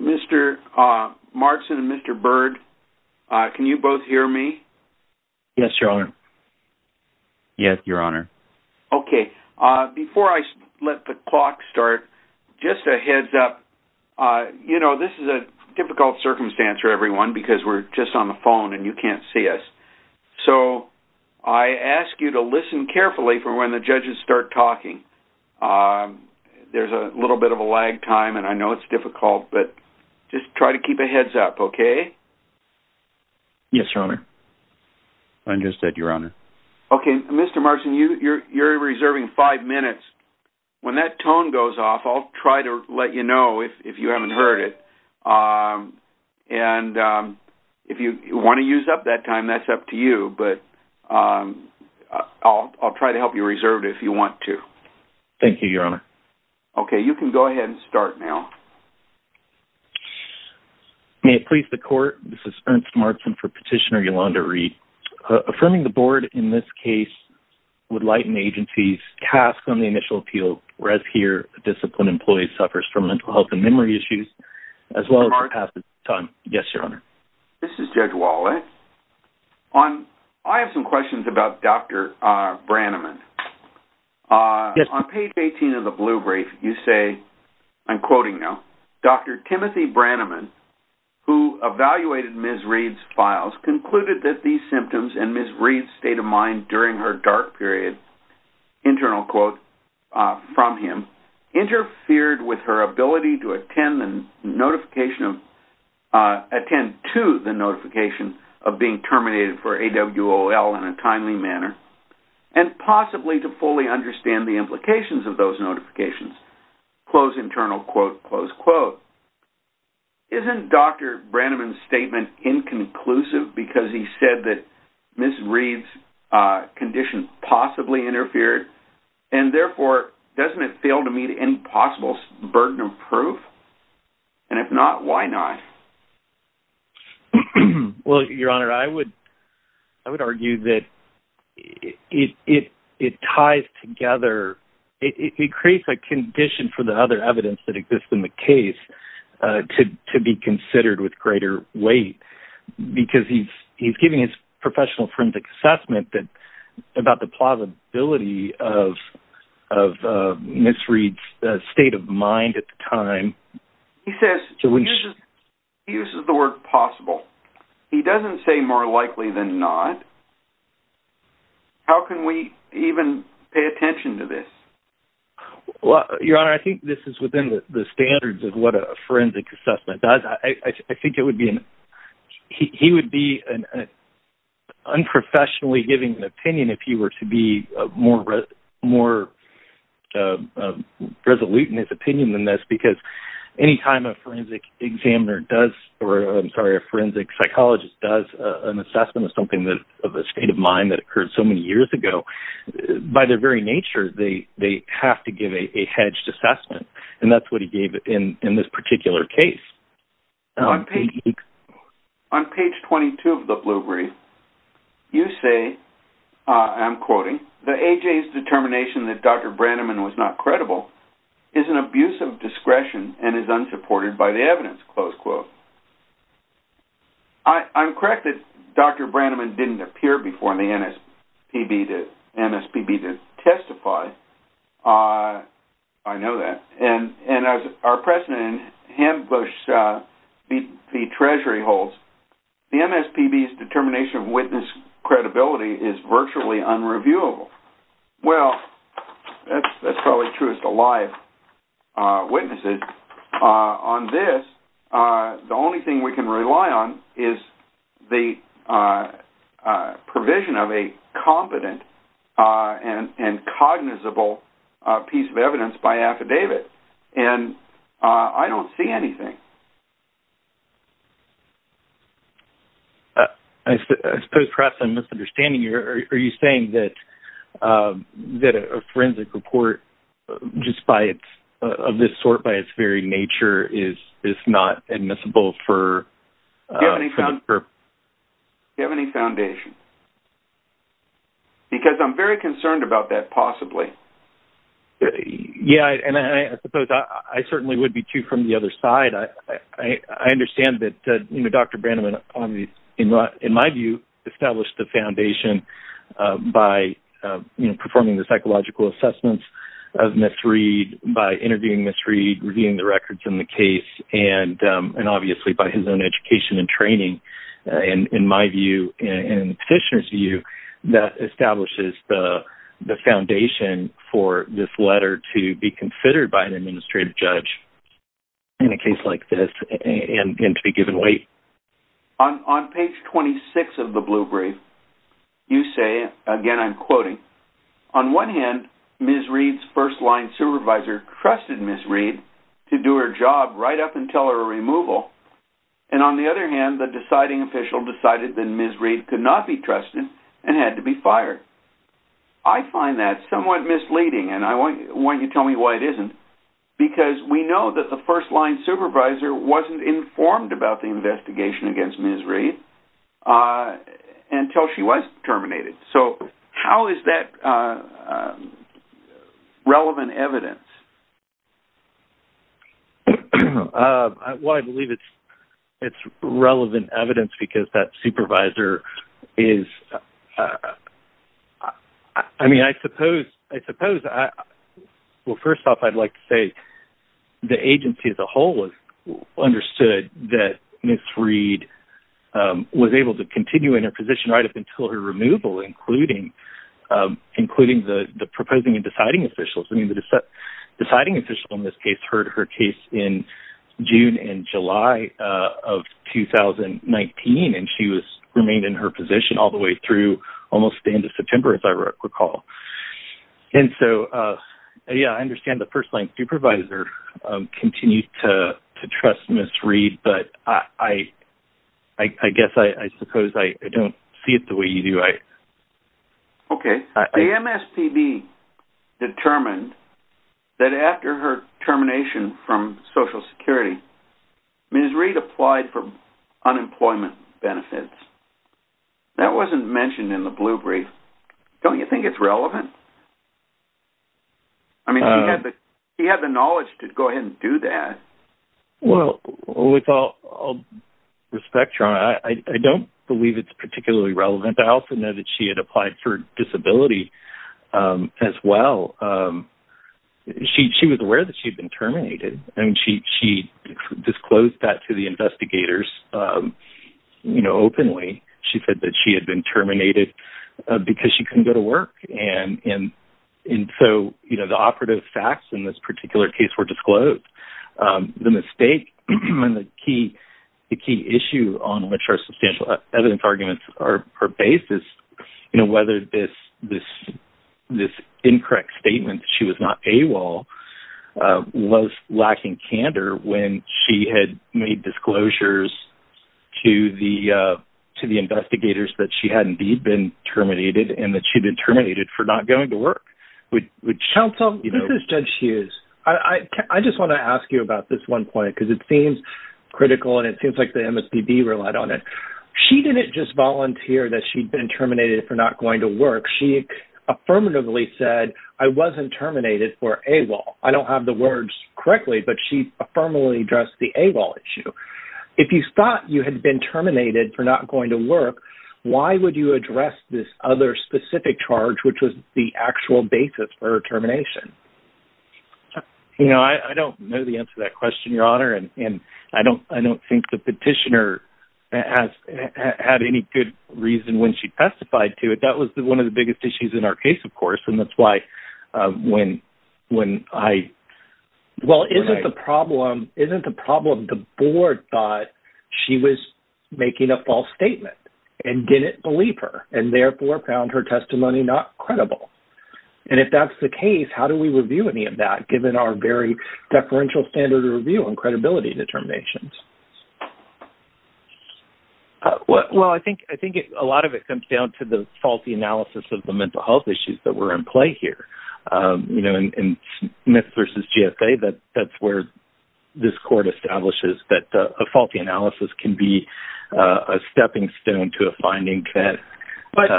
Mr. Markson and Mr. Byrd, can you both hear me? Yes, your honor. Yes, your honor. Okay, before I let the clock start, just a heads up, you know, this is a difficult circumstance for everyone because we're just on the phone and you can't see us. So, I ask you to listen carefully for when the judges start talking. There's a little bit of a lag time and I know it's difficult, but just try to keep a heads up, okay? Yes, your honor. Understood, your honor. Okay, Mr. Markson, you're reserving five minutes. When that tone goes off, I'll try to let you know if you haven't heard it. And if you want to use up that time, that's up to you, but I'll try to help you reserve it if you want to. Thank you, your honor. Okay, you can go ahead and start now. May it please the court, this is Ernst Markson for Petitioner Yolanda Reed. Affirming the board in this case would lighten agency's task on the initial appeal, whereas here a disciplined employee suffers from mental health and memory issues as well as a passage of time. Yes, your honor. This is Judge Wallet. I have some questions about Dr. Branneman. Yes. On page 18 of the blue brief, you say, I'm quoting now, Dr. Timothy Branneman, who evaluated Ms. Reed's files, concluded that these symptoms and Ms. Reed's state of mind during her dark period, internal quote from him, interfered with her ability to attend to the notification of being terminated for AWOL in a timely manner, and possibly to fully understand the implications of those notifications, close internal quote, close quote. Isn't Dr. Branneman's statement inconclusive because he said that Ms. Reed's condition possibly interfered, and proof? And if not, why not? Well, your honor, I would argue that it ties together, it creates a condition for the other evidence that exists in the case to be considered with greater weight, because he's giving his professional forensic assessment about the plausibility of Ms. Reed's state of mind at the time. He says, he uses the word possible. He doesn't say more likely than not. How can we even pay attention to this? Well, your honor, I think this is within the standards of what a forensic assessment does. I think it would be, he would be unprofessionally giving an opinion if he were to be more resolute in his opinion than this, because anytime a forensic examiner does, or I'm sorry, a forensic psychologist does an assessment of something of a state of mind that occurred so many years ago, by their very nature, they have to give a hedged assessment, and that's what he gave in this particular case. On page 22 of the Blue Brief, you say, I'm quoting, the A.J.'s determination that Dr. Branneman was not credible is an abuse of discretion and is unsupported by the evidence, close quote. I'm correct that Dr. Branneman didn't appear before the MSPB to testify. I know that, and as our president Hambush, the treasury holds, the MSPB's determination of witness credibility is virtually unreviewable. Well, that's probably true as to live witnesses. On this, the only thing we can rely on is the provision of a competent and cognizable piece of evidence by I suppose perhaps I'm misunderstanding you. Are you saying that a forensic report of this sort, by its very nature, is not admissible? Do you have any foundation? Because I'm very concerned about that, possibly. Yeah, and I suppose I certainly would be, too, from the other side. I mean, in my view, establish the foundation by performing the psychological assessments of Ms. Reed, by interviewing Ms. Reed, reviewing the records in the case, and obviously by his own education and training. In my view, in the petitioner's view, that establishes the foundation for this letter to be considered by an administrative judge in a case like this and to be given weight. On page 26 of the Blue Brief, you say, again I'm quoting, on one hand, Ms. Reed's first-line supervisor trusted Ms. Reed to do her job right up until her removal, and on the other hand, the deciding official decided that Ms. Reed could not be trusted and had to be fired. I find that somewhat misleading, and I want you to tell me why it isn't, because we know that the informed about the investigation against Ms. Reed until she was terminated. So how is that relevant evidence? Well, I believe it's relevant evidence because that supervisor is, I mean, I suppose, I suppose, well, first off, I'd like to say the agency as a whole understood that Ms. Reed was able to continue in her position right up until her removal, including the proposing and deciding officials. I mean, the deciding official in this case heard her case in June and July of 2019, and she was remained in her position all the way through almost the end of September, as I recall. And so, yeah, I think the first-line supervisor continued to trust Ms. Reed, but I guess, I suppose, I don't see it the way you do. Okay, the MSPB determined that after her termination from Social Security, Ms. Reed applied for unemployment benefits. That wasn't mentioned in the blue brief. Don't you think it's relevant? I mean, she had the knowledge to go ahead and do that. Well, with all respect, Ron, I don't believe it's particularly relevant. I also know that she had applied for disability as well. She was aware that she had been terminated, and she disclosed that to the investigators, you know, openly. She said that she had been terminated because she couldn't go to work. And so, you know, the operative facts in this particular case were disclosed. The mistake and the key issue on which our substantial evidence arguments are based is, you know, whether this incorrect statement that she was not AWOL was lacking candor when she had made disclosures to the investigators that she had indeed been terminated, and that she'd been terminated for not going to work. Counsel, this is Judge Hughes. I just want to ask you about this one point, because it seems critical, and it seems like the MSPB relied on it. She didn't just volunteer that she'd been terminated for not going to work. She affirmatively said, I wasn't terminated for AWOL. I don't have the words correctly, but she affirmably addressed the AWOL issue. If you thought you had been terminated for not going to work, why would you address this other specific charge, which was the actual basis for her termination? You know, I don't know the answer to that question, Your Honor, and I don't think the petitioner had any good reason when she testified to it. That was one of the biggest issues in our case, of course, and that's why when I... Well, isn't the problem the board thought she was making a false statement, and didn't believe her, and therefore found her testimony not credible? And if that's the case, how do we review any of that, given our very deferential standard of review and credibility determinations? Well, I think a lot of it comes down to the faulty analysis of the mental health issues that were in play here. In Smith v. GSA, that's where this court establishes that a faulty analysis can be a stepping stone to a finding that... But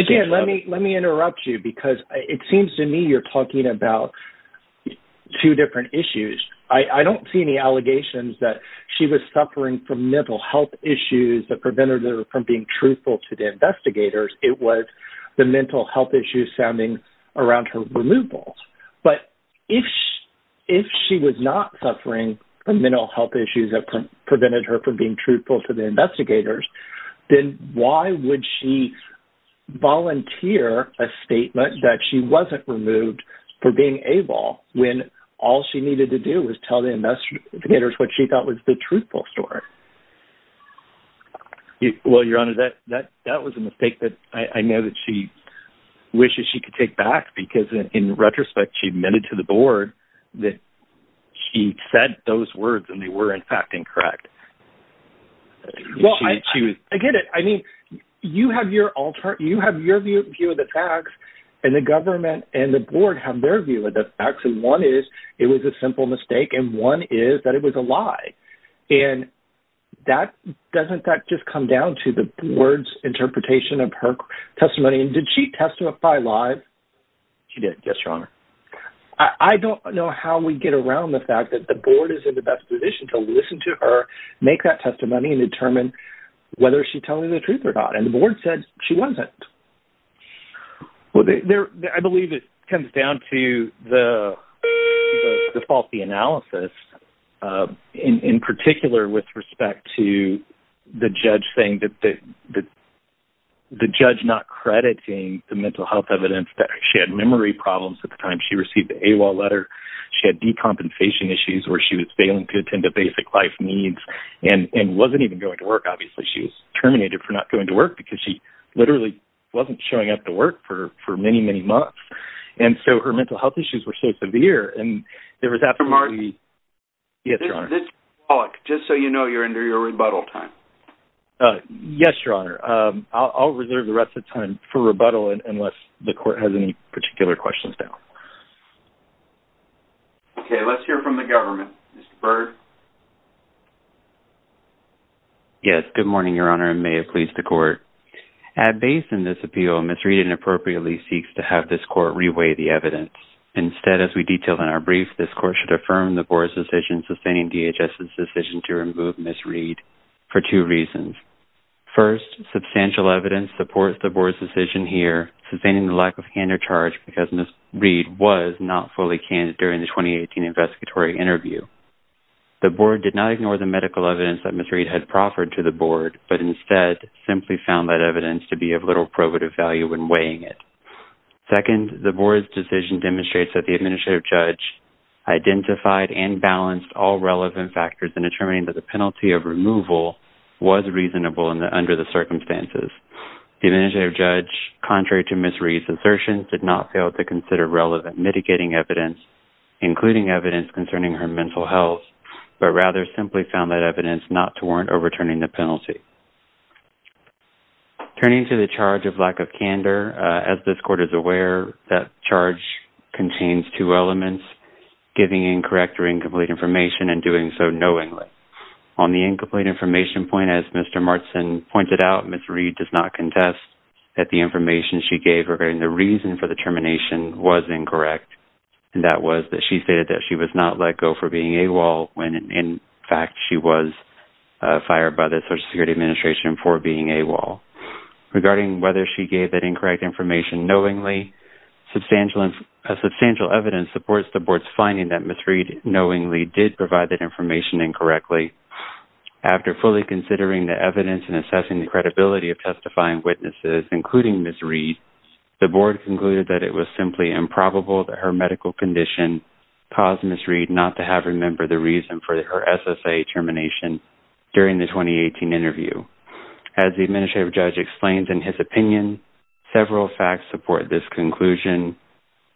again, let me interrupt you, because it seems to me you're talking about two different issues. I don't see any allegations that she was suffering from mental health issues that prevented her from being truthful to the investigators. It was the mental health issues sounding around her removal. But if she was not suffering from mental health issues that prevented her from being truthful to the investigators, then why would she volunteer a statement that she wasn't removed for being able, when all she needed to do was tell the investigators what she thought was the truthful story? Well, Your Honor, that was a mistake that I know that she wishes she could take back, because in retrospect, she admitted to the board that she said those words, and they were, in fact, incorrect. Well, I get it. I mean, you have your view of the facts, and the government and the board have their view of the facts. And one is, it was a simple mistake, and one is that it was a lie. And doesn't that just come down to the board's interpretation of her testimony? And did she testify lie? She did, yes, Your Honor. I don't know how we get around the fact that the board is in the best position to listen to her make that testimony and determine whether she's telling the truth or not. And the board said she wasn't. Well, I believe it comes down to the faulty analysis, in particular with respect to the judge saying that the judge not crediting the mental health evidence that she had memory problems at the time. She received the AWOL letter. She had decompensation issues where she was failing to attend to basic life needs and wasn't even going to work. Obviously, she was terminated for not going to work because she literally wasn't showing up to work for many, many months. And so her mental health issues were so severe. Mr. Martin? Yes, Your Honor. Just so you know, you're under your rebuttal time. Yes, Your Honor. I'll reserve the rest of time for rebuttal unless the court has any particular questions now. Okay, let's hear from the government. Mr. Byrd? Yes, good morning, Your Honor, and may it please the court. At base in this appeal, Ms. Reed inappropriately seeks to have this court reweigh the evidence. Instead, as we detailed in our brief, this court should affirm the board's decision sustaining DHS's decision to remove Ms. Reed for two reasons. First, substantial evidence supports the board's decision here sustaining the lack of hand or charge because Ms. Reed was not fully candid during the 2018 investigatory interview. The board did not ignore the medical evidence that Ms. Reed had proffered to the board, but instead simply found that evidence to be of little probative value when weighing it. Second, the board's decision demonstrates that the administrative judge identified and balanced all relevant factors in determining that the penalty of removal was reasonable under the circumstances. The administrative judge, contrary to Ms. Reed's assertion, did not fail to consider relevant mitigating evidence, including evidence concerning her mental health, but rather simply found that evidence not to warrant overturning the penalty. Turning to the charge of lack of candor, as this contains two elements, giving incorrect or incomplete information and doing so knowingly. On the incomplete information point, as Mr. Martson pointed out, Ms. Reed does not contest that the information she gave regarding the reason for the termination was incorrect, and that was that she stated that she was not let go for being AWOL when, in fact, she was fired by the Social Security Administration for being AWOL. Regarding whether she gave that incorrect information knowingly, substantial evidence supports the board's finding that Ms. Reed knowingly did provide that information incorrectly. After fully considering the evidence and assessing the credibility of testifying witnesses, including Ms. Reed, the board concluded that it was simply improbable that her medical condition caused Ms. Reed not to have remembered the reason for her SSA termination during the 2018 interview. As the administrative judge explains in his opinion, several facts support this conclusion,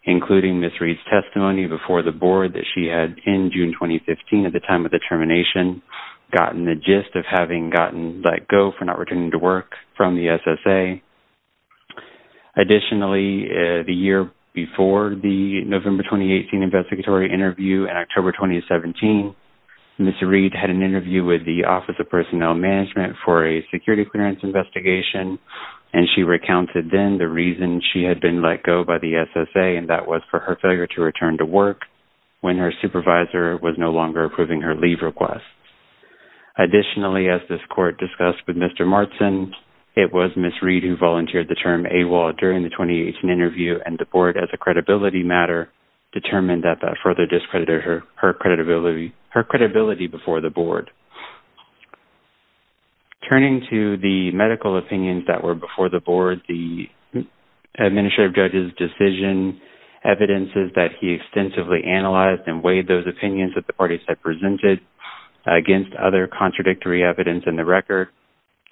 including Ms. Reed's testimony before the board that she had, in June 2015, at the time of the termination, gotten the gist of having gotten let go for not returning to work from the SSA. Additionally, the year before the November 2018 investigatory interview, in October 2017, Ms. Reed had an interview with the Office of and she recounted then the reason she had been let go by the SSA and that was for her failure to return to work when her supervisor was no longer approving her leave requests. Additionally, as this court discussed with Mr. Martson, it was Ms. Reed who volunteered the term AWOL during the 2018 interview and the board, as a credibility matter, determined that that further discredited her credibility before the board. Turning to the medical opinions that were before the board, the administrative judge's decision evidences that he extensively analyzed and weighed those opinions that the parties had presented against other contradictory evidence in the record.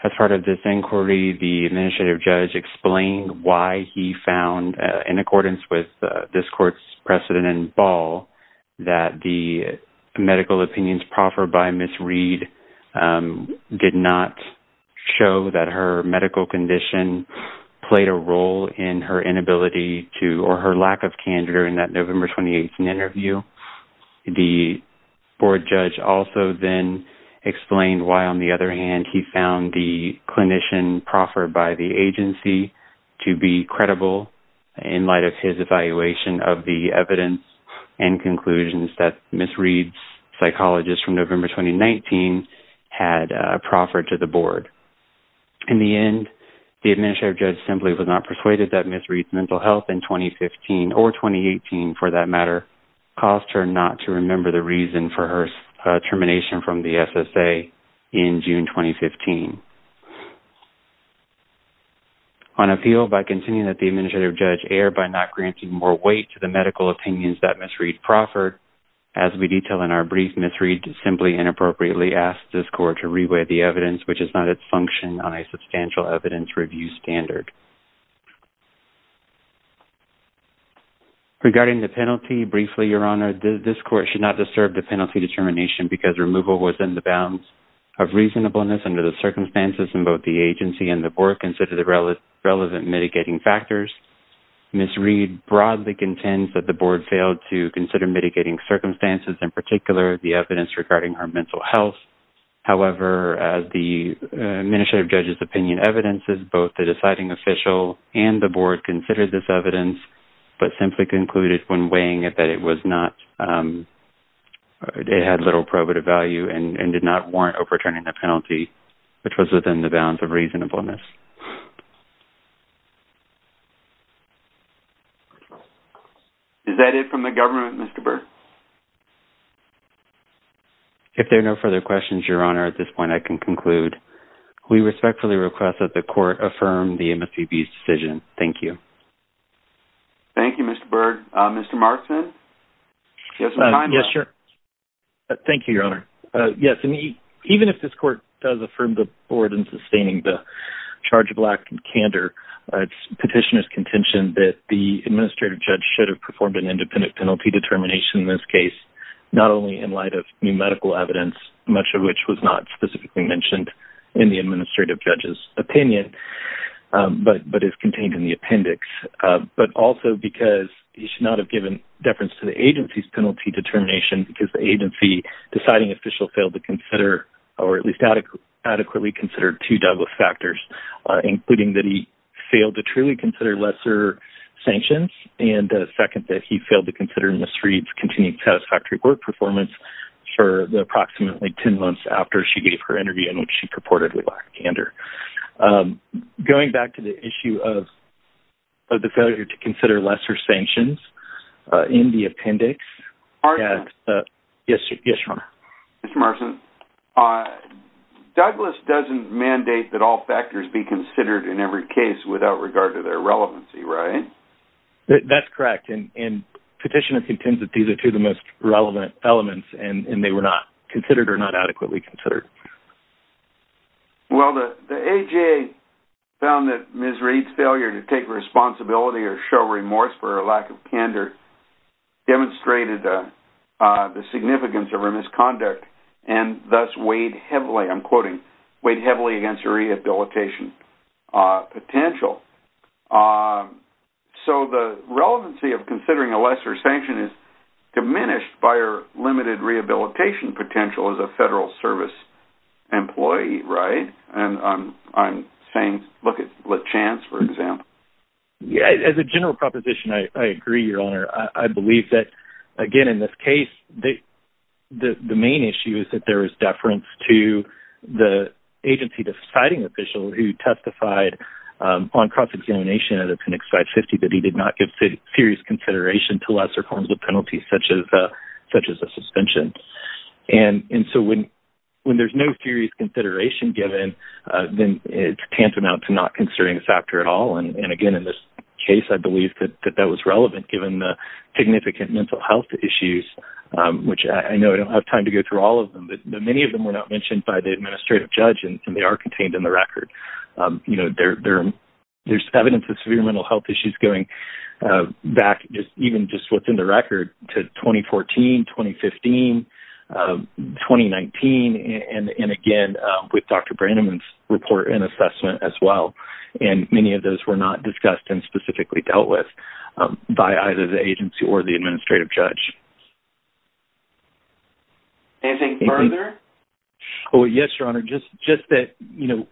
As part of this inquiry, the administrative judge explained why he found, in accordance with this court's precedent in Ball, that the medical opinions proffered by Ms. Reed about her medical condition played a role in her inability to, or her lack of, candor in that November 2018 interview. The board judge also then explained why, on the other hand, he found the clinician proffered by the agency to be credible in light of his evaluation of the evidence and conclusions that Ms. Reed's psychologist from November 2019 had proffered to the board. In the end, the administrative judge simply was not persuaded that Ms. Reed's mental health in 2015, or 2018 for that matter, caused her not to remember the reason for her termination from the SSA in June 2015. On appeal, by continuing that the administrative judge erred by not granting more weight to the medical opinions that Ms. Reed proffered, as we detail in our brief, Ms. Reed simply inappropriately asked this court to re-weigh the evidence, which is not its function on a substantial evidence review standard. Regarding the penalty, briefly, Your Honor, this court should not disturb the penalty determination because removal was in the bounds of reasonableness under the circumstances in both the agency and the board consider the relevant mitigating factors. Ms. Reed broadly contends that the evidence regarding her mental health, however, as the administrative judge's opinion evidences, both the deciding official and the board considered this evidence, but simply concluded when weighing it that it was not, it had little probative value and did not warrant overturning the penalty, which was within the bounds of reasonableness. Is that it from the government, Mr. Byrd? If there are no further questions, Your Honor, at this point I can conclude. We respectfully request that the court affirm the MSPB's decision. Thank you. Thank you, Mr. Byrd. Mr. Markson? Yes, sure. Thank you, Your Honor. Yes, even if this court does affirm the board in charge of lack and candor, it's petitioner's contention that the administrative judge should have performed an independent penalty determination in this case, not only in light of new medical evidence, much of which was not specifically mentioned in the administrative judge's opinion, but but is contained in the appendix, but also because he should not have given deference to the agency's penalty determination because the agency deciding official failed to consider or at least adequately considered two double factors, including that he failed to truly consider lesser sanctions and second, that he failed to consider Ms. Reed's continued satisfactory board performance for the approximately 10 months after she gave her interview in which she purportedly lacked candor. Going back to the issue of the failure to consider lesser sanctions in the appendix. Yes, Your Honor? Mr. Markson, Douglas doesn't mandate that all factors be considered in every case without regard to their relevancy, right? That's correct, and petitioner contends that these are two of the most relevant elements and they were not considered or not adequately considered. Well, the AJA found that Ms. Reed's failure to take responsibility or show remorse for a lack of candor demonstrated the significance of her misconduct and thus weighed heavily, I'm quoting, weighed heavily against her rehabilitation potential. So the relevancy of considering a lesser sanction is diminished by her limited rehabilitation potential as a Federal Service employee, right? And I'm saying look at LeChance, for example. Yeah, as a general proposition, I agree, Your Honor. I believe that again in this case, the main issue is that there is deference to the agency deciding official who testified on cross-examination at appendix 550 that he did not give serious consideration to lesser forms of penalty such as a suspension. And so when there's no serious consideration given, then it's tantamount to not considering this factor at all. And again, in this case, I believe that that was relevant given the significant mental health issues, which I know I don't have time to go through all of them, but many of them were not mentioned by the administrative judge and they are contained in the record. You know, there's evidence of severe mental health issues going back even just within the record to 2014, 2015, 2019, and again with Dr. Branneman's report and assessment as well. And many of those were not discussed and by either the agency or the administrative judge. Anything further? Oh yes, Your Honor. Just that, you know,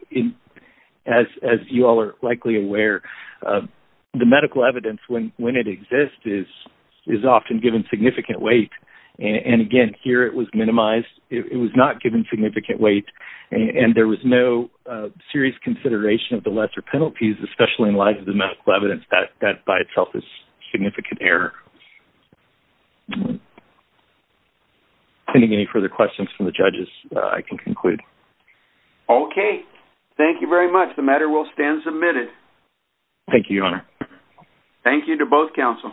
as you all are likely aware, the medical evidence, when it exists, is often given significant weight. And again, here it was minimized. It was not given significant weight and there was no serious consideration of the lesser penalties, especially in light of the medical evidence, that by itself is significant error. Any further questions from the judges, I can conclude. Okay, thank you very much. The matter will stand submitted. Thank you, Your Honor. Thank you to both counsel.